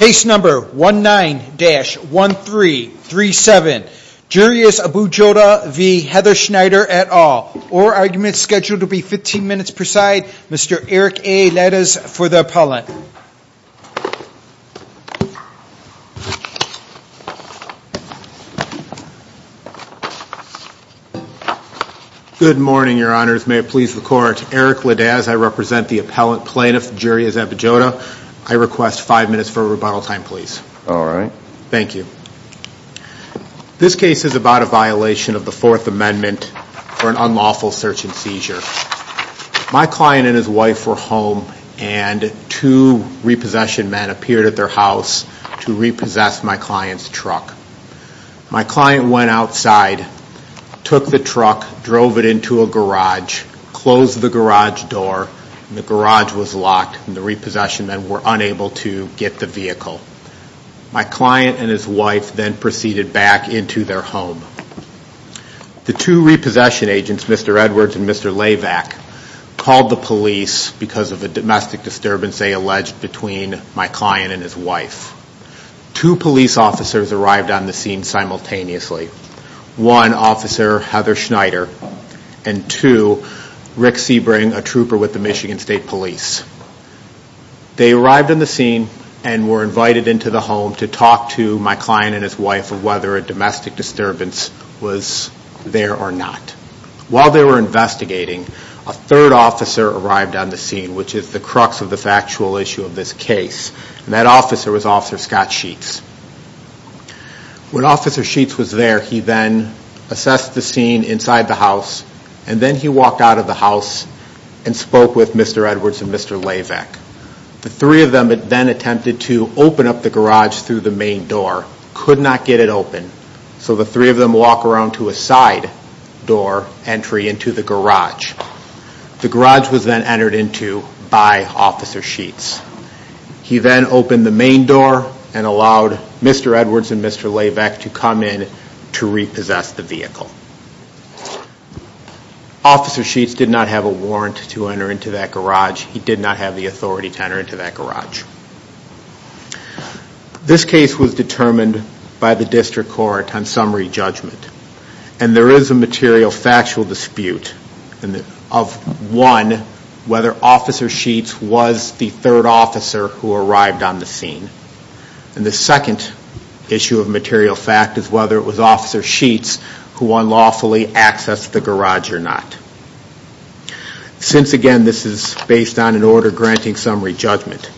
Case number 19-1337, Juries Abu-Joudeh v. Heather Schneider et al. Orguments scheduled to be 15 minutes per side. Mr. Eric A. Ledes for the appellant. Good morning, your honors. May it please the court. Eric Ledes, I represent the appellant plaintiff, Juries Abu-Joudeh. I request five minutes for rebuttal time, please. All right. Thank you. This case is about a violation of the Fourth Amendment for an unlawful search and seizure. My client and his wife were home, and two repossession men appeared at their house to repossess my client's truck. My client went outside, took the truck, drove it into a garage, closed the garage door, and the garage was locked, and the repossession men were unable to get the vehicle. My client and his wife then proceeded back into their home. The two repossession agents, Mr. Edwards and Mr. Lavack, called the police because of a domestic disturbance they alleged between my client and his wife. Two police officers arrived on the scene simultaneously. One, Officer Heather Schneider, and two, Rick Sebring, a trooper with the Michigan State Police. They arrived on the scene and were invited into the home to talk to my client and his wife of whether a domestic disturbance was there or not. While they were investigating, a third officer arrived on the scene, which is the crux of the factual issue of this case, and that officer was Officer Scott Sheets. When Officer Sheets was there, he then assessed the scene inside the house, and then he walked out of the house and spoke with Mr. Edwards and Mr. Lavack. The three of them then attempted to open up the garage through the main door, could not get it open, so the three of them walk around to a side door entry into the garage. The garage was then entered into by Officer Sheets. He then opened the main door and allowed Mr. Edwards and Mr. Lavack to come in to repossess the vehicle. Officer Sheets did not have a warrant to enter into that garage. He did not have the authority to enter into that garage. This case was determined by the district court on summary judgment, and there is a material factual dispute of one, whether Officer Sheets was the third officer who arrived on the scene, and the second issue of material fact is whether it was Officer Sheets who unlawfully accessed the garage or not. Since, again, this is based on an order granting summary judgment,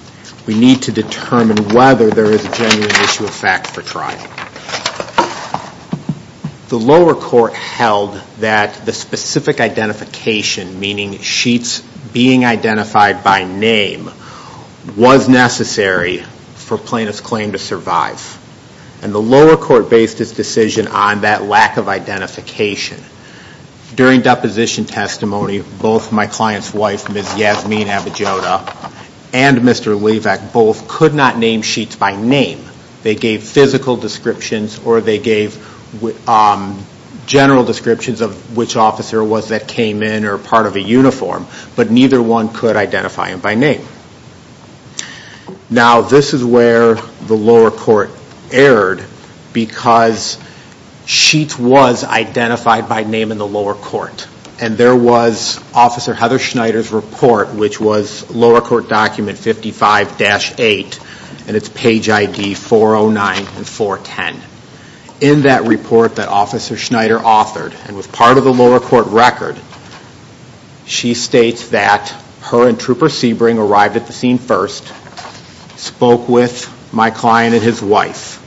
we need to determine whether there is a genuine issue of fact for trial. The lower court held that the specific identification, meaning Sheets being identified by name, was necessary for plaintiff's claim to survive. And the lower court based its decision on that lack of identification. During deposition testimony, both my client's wife, Ms. Yasmin Abujoda, and Mr. Lavack both could not name Sheets by name. They gave physical descriptions or they gave general descriptions of which officer it was that came in or part of a uniform, but neither one could identify him by name. Now, this is where the lower court erred, because Sheets was identified by name in the lower court, and there was Officer Heather Schneider's report, which was lower court document 55-8, and it's page ID 409 and 410. In that report that Officer Schneider authored, and was part of the lower court record, she states that her and Trooper Sebring arrived at the scene first, spoke with my client and his wife.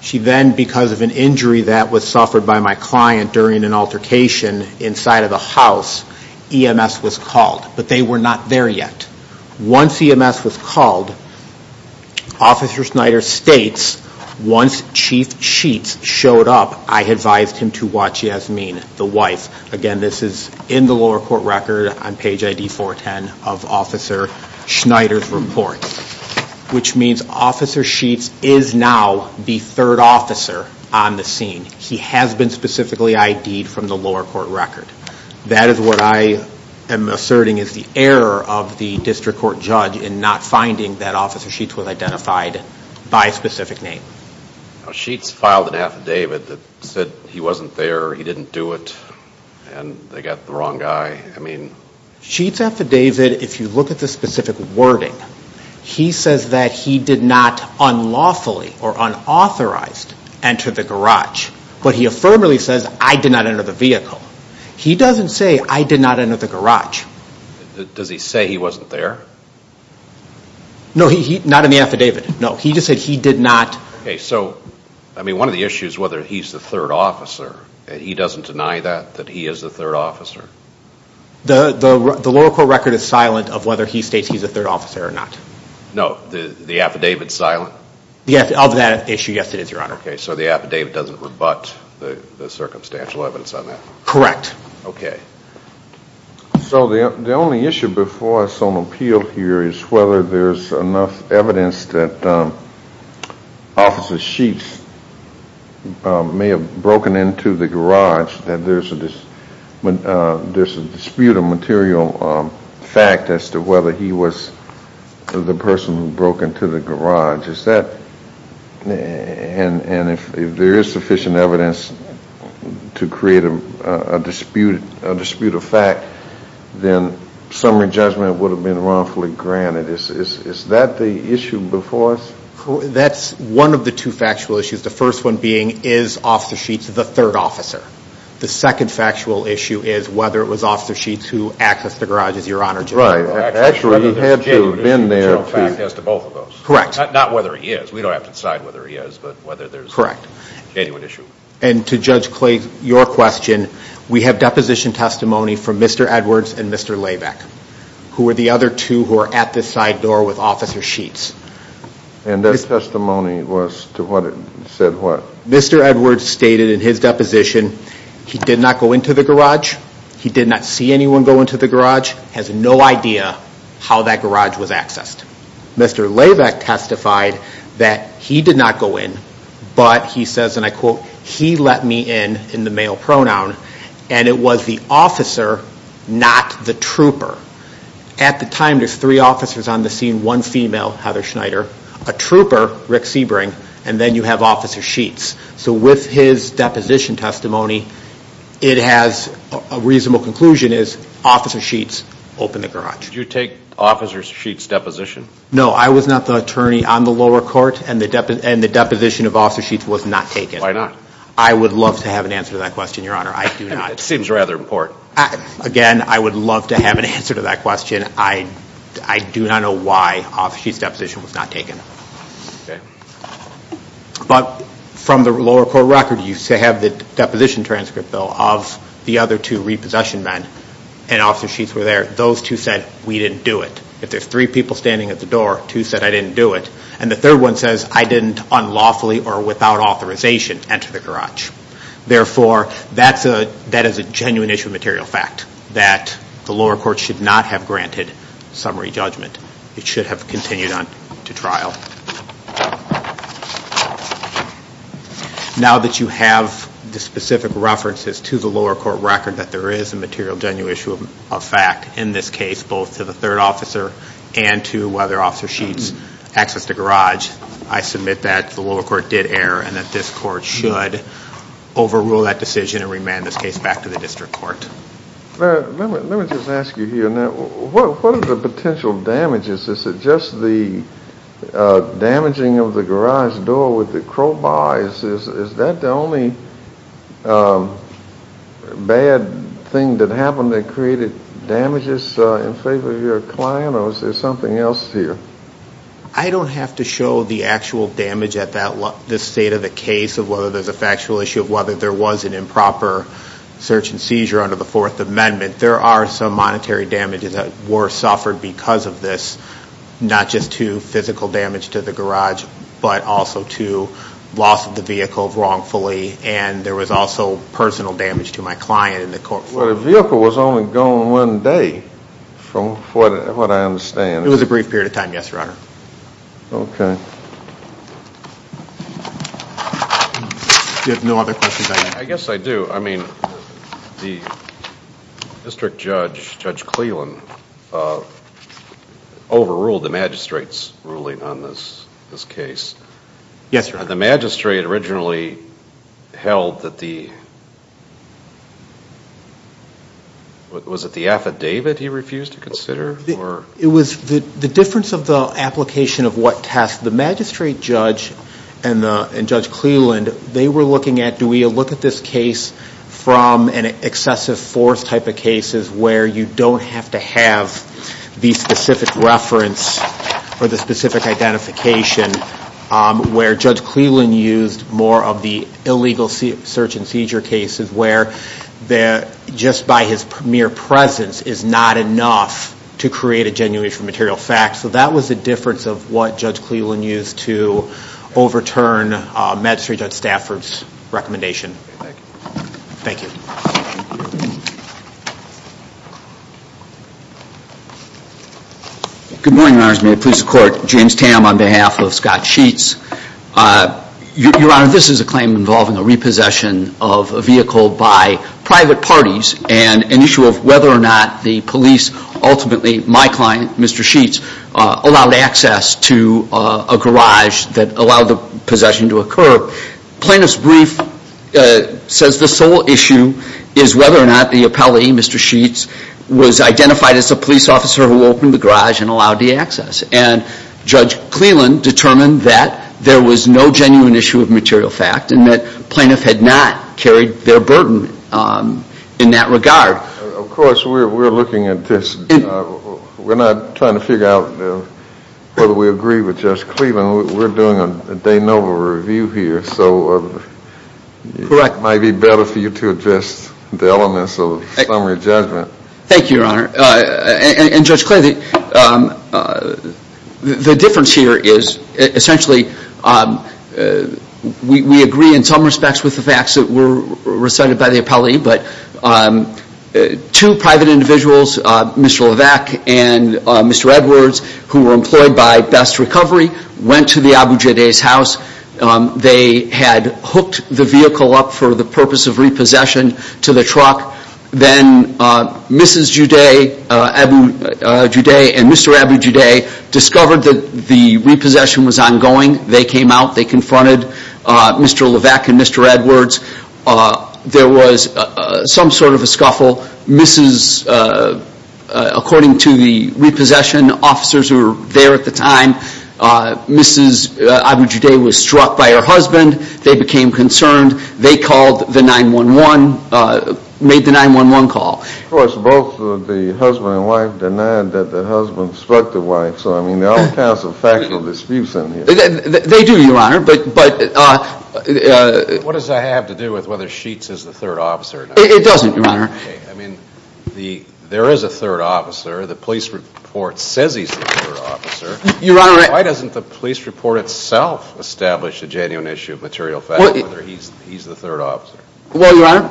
She then, because of an injury that was suffered by my client during an altercation inside of the house, EMS was called. But they were not there yet. Once EMS was called, Officer Schneider states, once Chief Sheets showed up, I advised him to watch Yasmin, the wife. Again, this is in the lower court record on page ID 410 of Officer Schneider's report, which means Officer Sheets is now the third officer on the scene. He has been specifically ID'd from the lower court record. That is what I am asserting is the error of the district court judge in not finding that Officer Sheets was identified by a specific name. Sheets filed an affidavit that said he wasn't there, he didn't do it, and they got the wrong guy. Sheets' affidavit, if you look at the specific wording, he says that he did not unlawfully or unauthorized enter the garage, but he affirmatively says, I did not enter the vehicle. He doesn't say, I did not enter the garage. Does he say he wasn't there? No, not in the affidavit, no. He just said he did not. One of the issues, whether he's the third officer, he doesn't deny that, that he is the third officer? The lower court record is silent of whether he states he's the third officer or not. No, the affidavit's silent? Of that issue, yes it is, Your Honor. Okay, so the affidavit doesn't rebut the circumstantial evidence on that? Correct. Okay. So the only issue before us on appeal here is whether there's enough evidence that Officer Sheets may have broken into the garage, that there's a dispute of material fact as to whether he was the person who broke into the garage. And if there is sufficient evidence to create a dispute of fact, then summary judgment would have been wrongfully granted. Is that the issue before us? That's one of the two factual issues, the first one being is Officer Sheets the third officer? The second factual issue is whether it was Officer Sheets who accessed the garage, Your Honor. Right. Actually, he had to have been there. Correct. Not whether he is. We don't have to decide whether he is, but whether there's genuine issue. Correct. And to Judge Clay, your question, we have deposition testimony from Mr. Edwards and Mr. Labeck, who are the other two who are at the side door with Officer Sheets. And their testimony was to what? Said what? Mr. Edwards stated in his deposition he did not go into the garage, he did not see anyone go into the garage, has no idea how that garage was accessed. Mr. Labeck testified that he did not go in, but he says, and I quote, he let me in, in the male pronoun, and it was the officer, not the trooper. At the time, there's three officers on the scene, one female, Heather Schneider, a trooper, Rick Sebring, and then you have Officer Sheets. So with his deposition testimony, it has a reasonable conclusion as Officer Sheets opened the garage. Did you take Officer Sheets' deposition? No. I was not the attorney on the lower court, and the deposition of Officer Sheets was not taken. Why not? I would love to have an answer to that question, Your Honor. I do not. It seems rather important. Again, I would love to have an answer to that question. I do not know why Officer Sheets' deposition was not taken. Okay. But from the lower court record, you have the deposition transcript, though, of the other two repossession men, and Officer Sheets were there. Those two said, we didn't do it. If there's three people standing at the door, two said, I didn't do it. And the third one says, I didn't unlawfully or without authorization enter the garage. Therefore, that is a genuine issue of material fact, that the lower court should not have granted summary judgment. It should have continued on to trial. Now that you have the specific references to the lower court record that there is a material genuine issue of fact in this case, both to the third officer and to whether Officer Sheets accessed the garage, I submit that the lower court did err and that this court should overrule that decision and remand this case back to the district court. Let me just ask you here, what are the potential damages? Is it just the damaging of the garage door with the crowbars? Is that the only bad thing that happened that created damages in favor of your client? Or is there something else here? I don't have to show the actual damage at this state of the case of whether there's a factual issue of whether there was an improper search and seizure under the Fourth Amendment. There are some monetary damages that were suffered because of this, not just to physical damage to the garage, but also to loss of the vehicle wrongfully, and there was also personal damage to my client. Well, the vehicle was only gone one day from what I understand. It was a brief period of time, yes, Your Honor. Okay. You have no other questions? I guess I do. I mean, the district judge, Judge Cleland, overruled the magistrate's ruling on this case. Yes, Your Honor. The magistrate originally held that the, was it the affidavit he refused to consider? It was the difference of the application of what task. The magistrate judge and Judge Cleland, they were looking at, do we look at this case from an excessive force type of cases where you don't have to have the specific reference or the specific identification, where Judge Cleland used more of the illegal search and seizure cases where just by his mere presence is not enough to create a genuine material fact. So that was the difference of what Judge Cleland used to overturn Magistrate Judge Stafford's recommendation. Thank you. Thank you. Good morning, Your Honors. May it please the Court. James Tam on behalf of Scott Sheets. Your Honor, this is a claim involving a repossession of a vehicle by private parties and an issue of whether or not the police ultimately, my client, Mr. Sheets, allowed access to a garage that allowed the possession to occur. Plaintiff's brief says the sole issue is whether or not the appellee, Mr. Sheets, was identified as a police officer who opened the garage and allowed the access. And Judge Cleland determined that there was no genuine issue of material fact and that plaintiff had not carried their burden in that regard. Of course, we're looking at this. We're not trying to figure out whether we agree with Judge Cleland. We're doing a de novo review here, so it might be better for you to address the elements of summary judgment. Thank you, Your Honor. And Judge Cleland, the difference here is, essentially, we agree in some respects with the facts that were recited by the appellee, but two private individuals, Mr. Levesque and Mr. Edwards, who were employed by Best Recovery, went to the Abu Jaday's house. They had hooked the vehicle up for the purpose of repossession to the truck. Then Mrs. Jaday and Mr. Abu Jaday discovered that the repossession was ongoing. They came out. They confronted Mr. Levesque and Mr. Edwards. There was some sort of a scuffle. According to the repossession officers who were there at the time, Mrs. Abu Jaday was struck by her husband. They became concerned. They called the 9-1-1, made the 9-1-1 call. Of course, both the husband and wife denied that the husband struck the wife. So, I mean, there are all kinds of factual disputes in here. They do, Your Honor. What does that have to do with whether Sheets is the third officer? It doesn't, Your Honor. Okay. I mean, there is a third officer. The police report says he's the third officer. Your Honor, I Why doesn't the police report itself establish the genuine issue of material facts, whether he's the third officer? Well, Your Honor,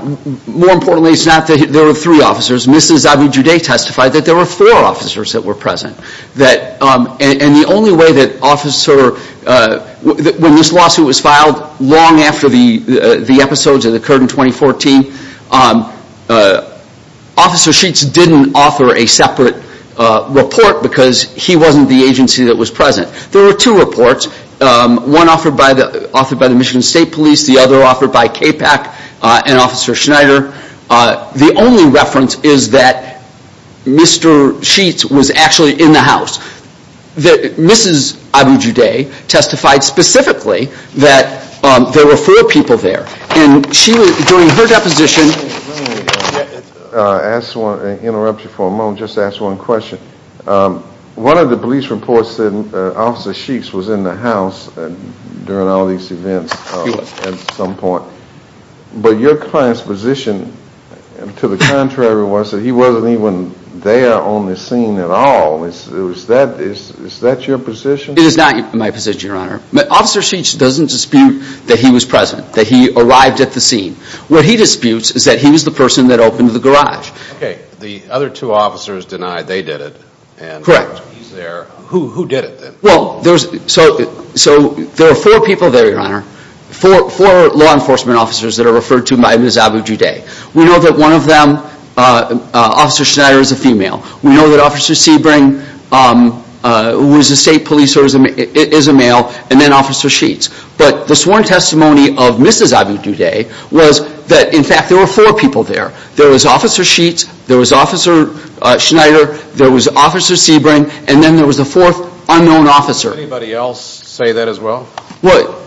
more importantly, it's not that there are three officers. Mrs. Abu Jaday testified that there were four officers that were present. And the only way that officer – when this lawsuit was filed long after the episodes that occurred in 2014, Officer Sheets didn't offer a separate report because he wasn't the agency that was present. There were two reports, one offered by the Michigan State Police, the other offered by KPAC and Officer Schneider. The only reference is that Mr. Sheets was actually in the house. Mrs. Abu Jaday testified specifically that there were four people there. And she was – during her deposition Let me interrupt you for a moment and just ask one question. One of the police reports said Officer Sheets was in the house during all these events at some point. But your client's position to the contrary was that he wasn't even there on the scene at all. Is that your position? It is not my position, Your Honor. Officer Sheets doesn't dispute that he was present, that he arrived at the scene. What he disputes is that he was the person that opened the garage. Okay. The other two officers denied they did it. Correct. And he's there. Who did it then? Well, there's – so there are four people there, Your Honor. Four law enforcement officers that are referred to by Mrs. Abu Jaday. We know that one of them, Officer Schneider, is a female. We know that Officer Sebring, who is a state police officer, is a male. And then Officer Sheets. But the sworn testimony of Mrs. Abu Jaday was that, in fact, there were four people there. There was Officer Sheets, there was Officer Schneider, there was Officer Sebring, and then there was a fourth unknown officer. Did anybody else say that as well? Well,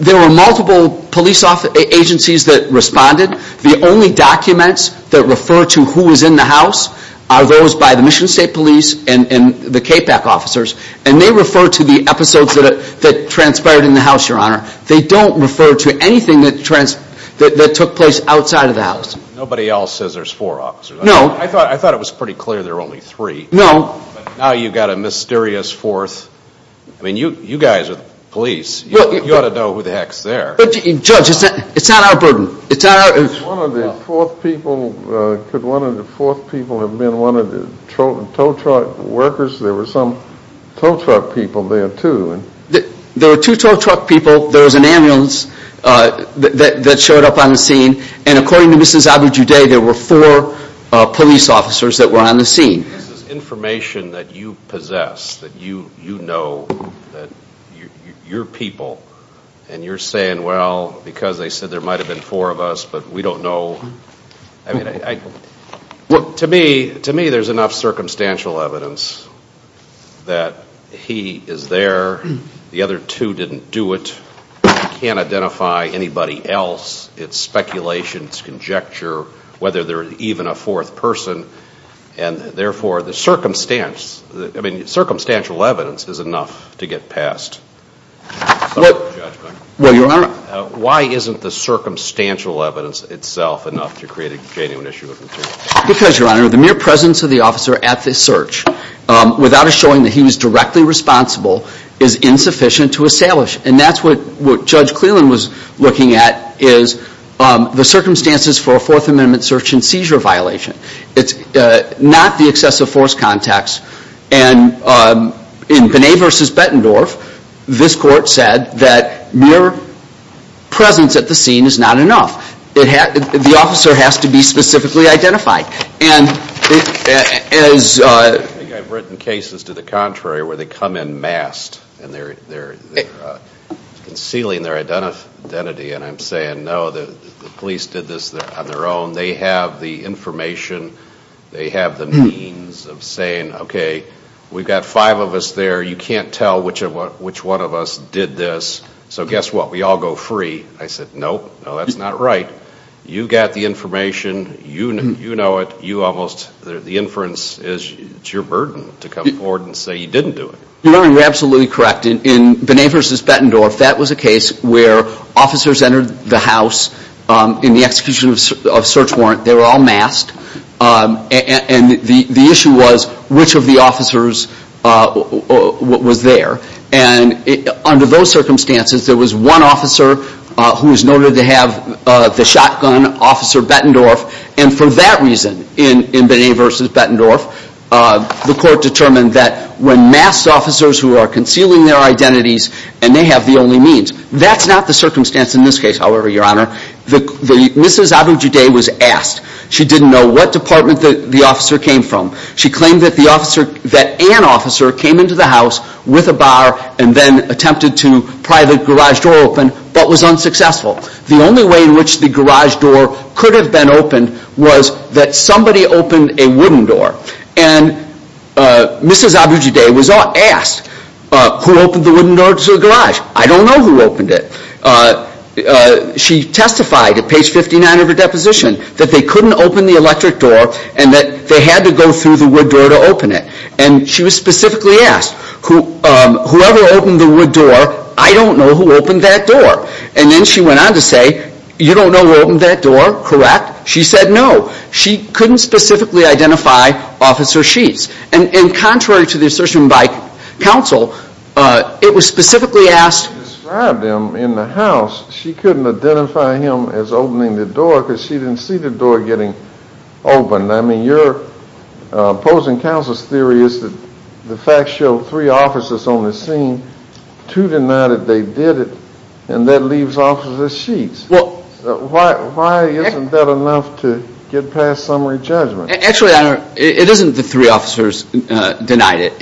there were multiple police agencies that responded. The only documents that refer to who was in the house are those by the Michigan State Police and the KPAC officers. And they refer to the episodes that transpired in the house, Your Honor. They don't refer to anything that took place outside of the house. Nobody else says there's four officers. No. I thought it was pretty clear there were only three. No. Now you've got a mysterious fourth. I mean, you guys are the police. You ought to know who the heck's there. Judge, it's not our burden. Could one of the fourth people have been one of the tow truck workers? There were some tow truck people there, too. There were two tow truck people. There was an ambulance that showed up on the scene. And according to Mrs. Abu Jaday, there were four police officers that were on the scene. This is information that you possess, that you know, that you're people. And you're saying, well, because they said there might have been four of us, but we don't know. I mean, to me, there's enough circumstantial evidence that he is there. The other two didn't do it. You can't identify anybody else. It's speculation. It's conjecture whether there was even a fourth person. And, therefore, the circumstance, I mean, circumstantial evidence is enough to get past judgment. Well, Your Honor. Why isn't the circumstantial evidence itself enough to create a genuine issue of material? Because, Your Honor, the mere presence of the officer at the search, without us showing that he was directly responsible, is insufficient to establish. And that's what Judge Cleland was looking at, is the circumstances for a Fourth Amendment search and seizure violation. It's not the excessive force context. And in Benet v. Bettendorf, this court said that mere presence at the scene is not enough. The officer has to be specifically identified. And as- I think I've written cases to the contrary where they come in masked, and they're concealing their identity. And I'm saying, no, the police did this on their own. They have the information. They have the means of saying, okay, we've got five of us there. You can't tell which one of us did this. So guess what? We all go free. I said, no, no, that's not right. You got the information. You know it. You almost-the inference is it's your burden to come forward and say you didn't do it. Your Honor, you're absolutely correct. In Benet v. Bettendorf, that was a case where officers entered the house in the execution of search warrant. They were all masked. And the issue was which of the officers was there. And under those circumstances, there was one officer who was noted to have the shotgun, Officer Bettendorf. And for that reason, in Benet v. Bettendorf, the court determined that when masked officers who are concealing their identities and they have the only means, that's not the circumstance in this case, however, Your Honor, Mrs. Abu-Jaday was asked. She didn't know what department the officer came from. She claimed that an officer came into the house with a bar and then attempted to pry the garage door open but was unsuccessful. The only way in which the garage door could have been opened was that somebody opened a wooden door. And Mrs. Abu-Jaday was asked who opened the wooden door to the garage. I don't know who opened it. She testified at page 59 of her deposition that they couldn't open the electric door and that they had to go through the wood door to open it. And she was specifically asked, whoever opened the wood door, I don't know who opened that door. And then she went on to say, you don't know who opened that door, correct? She said no. She couldn't specifically identify Officer Sheets. And contrary to the assertion by counsel, it was specifically asked... She described him in the house. She couldn't identify him as opening the door because she didn't see the door getting opened. I mean, your opposing counsel's theory is that the facts show three officers on the scene, two denied that they did it, and that leaves Officer Sheets. Why isn't that enough to get past summary judgment? Actually, it isn't the three officers denied it.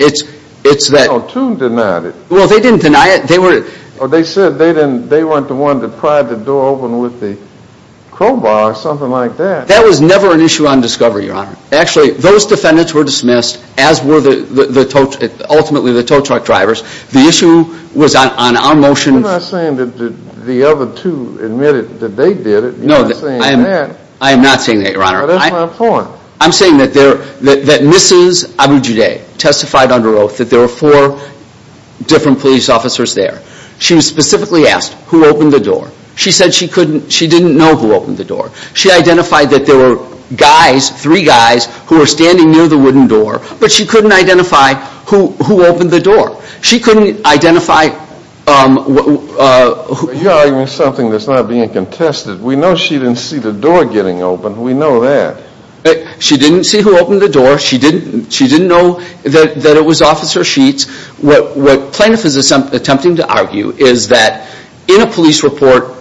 No, two denied it. Well, they didn't deny it. They said they weren't the one to pry the door open with the crowbar or something like that. That was never an issue on discovery, Your Honor. Actually, those defendants were dismissed, as were ultimately the tow truck drivers. The issue was on our motion... You're not saying that the other two admitted that they did it. You're not saying that. I am not saying that, Your Honor. Well, that's my point. I'm saying that Mrs. Abu Judeh testified under oath that there were four different police officers there. She was specifically asked who opened the door. She said she didn't know who opened the door. She identified that there were guys, three guys, who were standing near the wooden door, but she couldn't identify who opened the door. She couldn't identify... You're arguing something that's not being contested. We know she didn't see the door getting opened. We know that. She didn't see who opened the door. She didn't know that it was Officer Sheets. What plaintiff is attempting to argue is that in a police report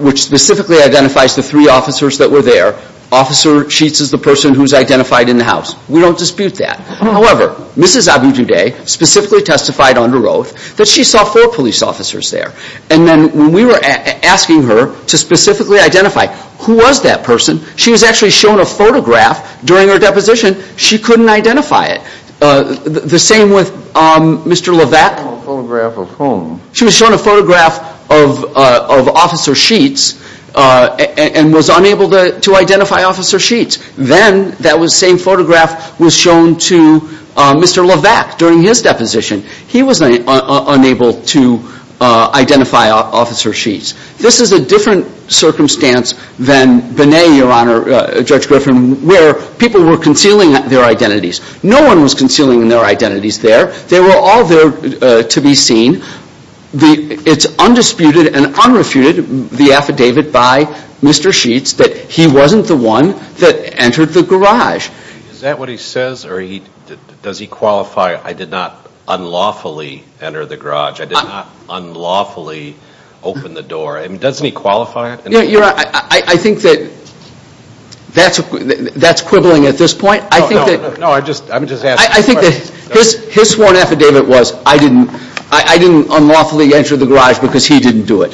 which specifically identifies the three officers that were there, Officer Sheets is the person who's identified in the house. We don't dispute that. However, Mrs. Abu Judeh specifically testified under oath that she saw four police officers there. And then when we were asking her to specifically identify who was that person, she was actually shown a photograph during her deposition. She couldn't identify it. The same with Mr. Levesque. A photograph of whom? She was shown a photograph of Officer Sheets and was unable to identify Officer Sheets. Then that same photograph was shown to Mr. Levesque during his deposition. He was unable to identify Officer Sheets. This is a different circumstance than Benet, Your Honor, Judge Griffin, where people were concealing their identities. No one was concealing their identities there. They were all there to be seen. It's undisputed and unrefuted, the affidavit by Mr. Sheets, that he wasn't the one that entered the garage. Is that what he says, or does he qualify, I did not unlawfully enter the garage? I did not unlawfully open the door. Doesn't he qualify it? Your Honor, I think that that's quibbling at this point. I think that his sworn affidavit was, I didn't unlawfully enter the garage because he didn't do it.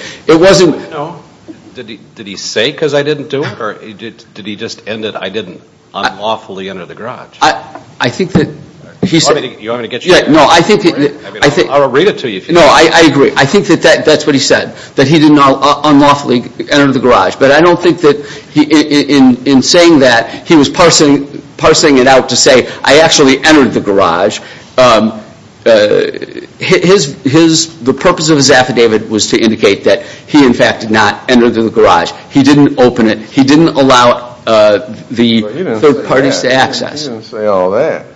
Did he say because I didn't do it, or did he just end it, I didn't unlawfully enter the garage? I think that he said. I'll read it to you. No, I agree. I think that that's what he said, that he didn't unlawfully enter the garage. But I don't think that in saying that, he was parsing it out to say I actually entered the garage. The purpose of his affidavit was to indicate that he, in fact, did not enter the garage. He didn't open it. He didn't allow the third parties to access. He didn't say all that.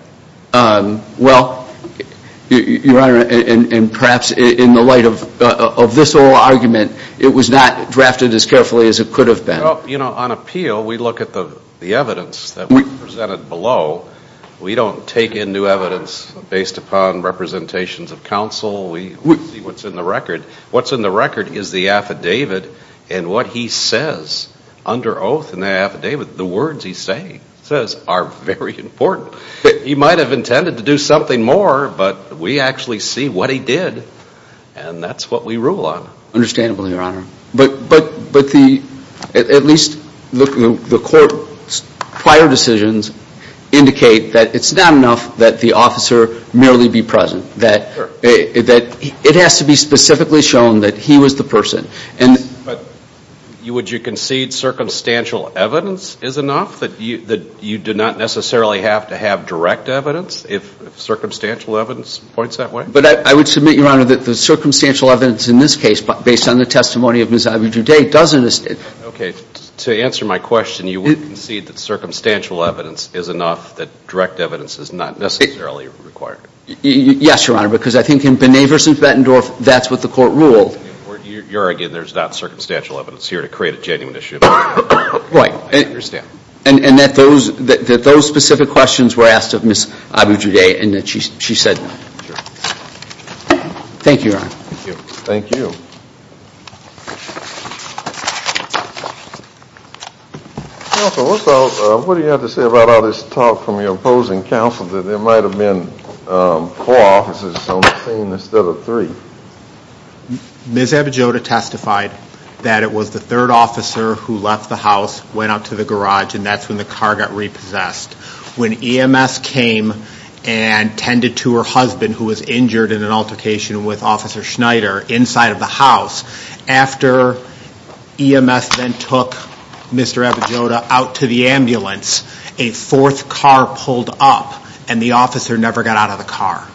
Well, Your Honor, and perhaps in the light of this whole argument, it was not drafted as carefully as it could have been. You know, on appeal, we look at the evidence that we presented below. We don't take in new evidence based upon representations of counsel. We see what's in the record. What's in the record is the affidavit, and what he says under oath in the affidavit, the words he says are very important. He might have intended to do something more, but we actually see what he did, and that's what we rule on. Understandably, Your Honor. But at least the court's prior decisions indicate that it's not enough that the officer merely be present, that it has to be specifically shown that he was the person. But would you concede circumstantial evidence is enough, that you do not necessarily have to have direct evidence, if circumstantial evidence points that way? But I would submit, Your Honor, that the circumstantial evidence in this case, based on the testimony of Ms. Iberjude, doesn't. Okay. To answer my question, you would concede that circumstantial evidence is enough, that direct evidence is not necessarily required? Yes, Your Honor, because I think in Binet v. Bettendorf, that's what the court ruled. You're arguing there's not circumstantial evidence here to create a genuine issue. Right. I understand. And that those specific questions were asked of Ms. Iberjude, and that she said no. Sure. Thank you, Your Honor. Thank you. Thank you. Counsel, what about, what do you have to say about all this talk from your opposing counsel that there might have been four officers on the scene instead of three? Ms. Iberjude testified that it was the third officer who left the house, went out to the garage, and that's when the car got repossessed. When EMS came and tended to her husband, who was injured in an altercation with Officer Schneider, inside of the house, after EMS then took Mr. Iberjude out to the ambulance, a fourth car pulled up and the officer never got out of the car.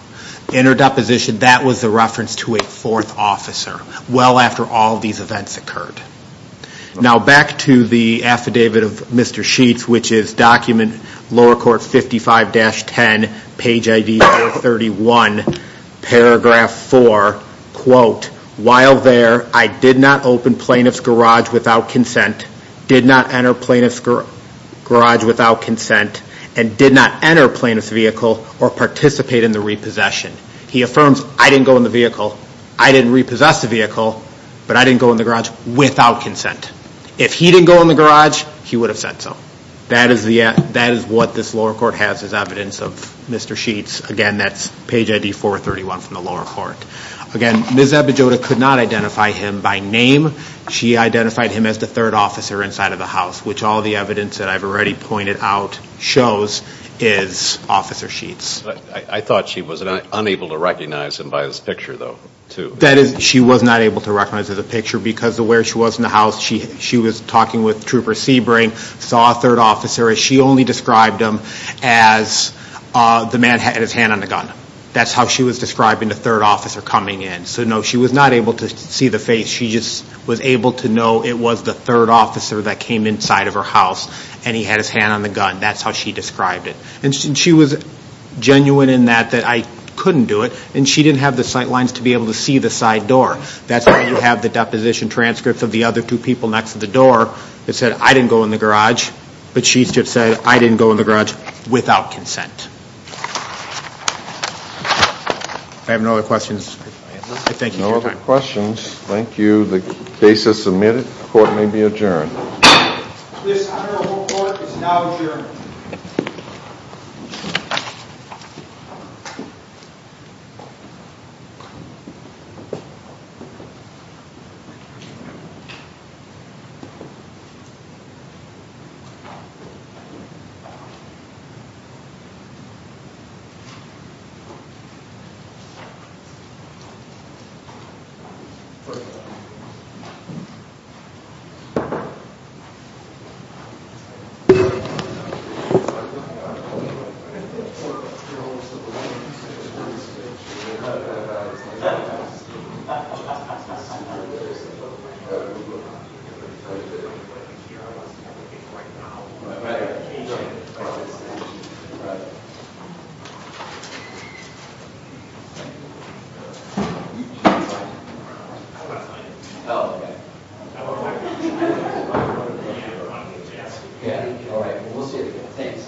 In her deposition, that was the reference to a fourth officer, well after all these events occurred. Now back to the affidavit of Mr. Sheets, which is document lower court 55-10, page ID 431, paragraph 4, quote, while there, I did not open plaintiff's garage without consent, did not enter plaintiff's garage without consent, and did not enter plaintiff's vehicle or participate in the repossession. He affirms, I didn't go in the vehicle, I didn't repossess the vehicle, but I didn't go in the garage without consent. If he didn't go in the garage, he would have said so. That is what this lower court has as evidence of Mr. Sheets. Again, that's page ID 431 from the lower court. Again, Ms. Iberjude could not identify him by name. She identified him as the third officer inside of the house, which all the evidence that I've already pointed out shows is Officer Sheets. I thought she was unable to recognize him by his picture, though, too. That is, she was not able to recognize his picture because of where she was in the house. She was talking with Trooper Sebring, saw a third officer, and she only described him as the man had his hand on the gun. That's how she was describing the third officer coming in. So, no, she was not able to see the face. She just was able to know it was the third officer that came inside of her house and he had his hand on the gun. That's how she described it. And she was genuine in that, that I couldn't do it, and she didn't have the sight lines to be able to see the side door. That's why you have the deposition transcripts of the other two people next to the door that said, I didn't go in the garage, but Sheets just said, I didn't go in the garage without consent. If I have no other questions, I thank you for your time. No other questions. Thank you. The case is submitted. Court may be adjourned. This honorable court is now adjourned. Thank you. All right. We'll see you again. Thanks. Thank you.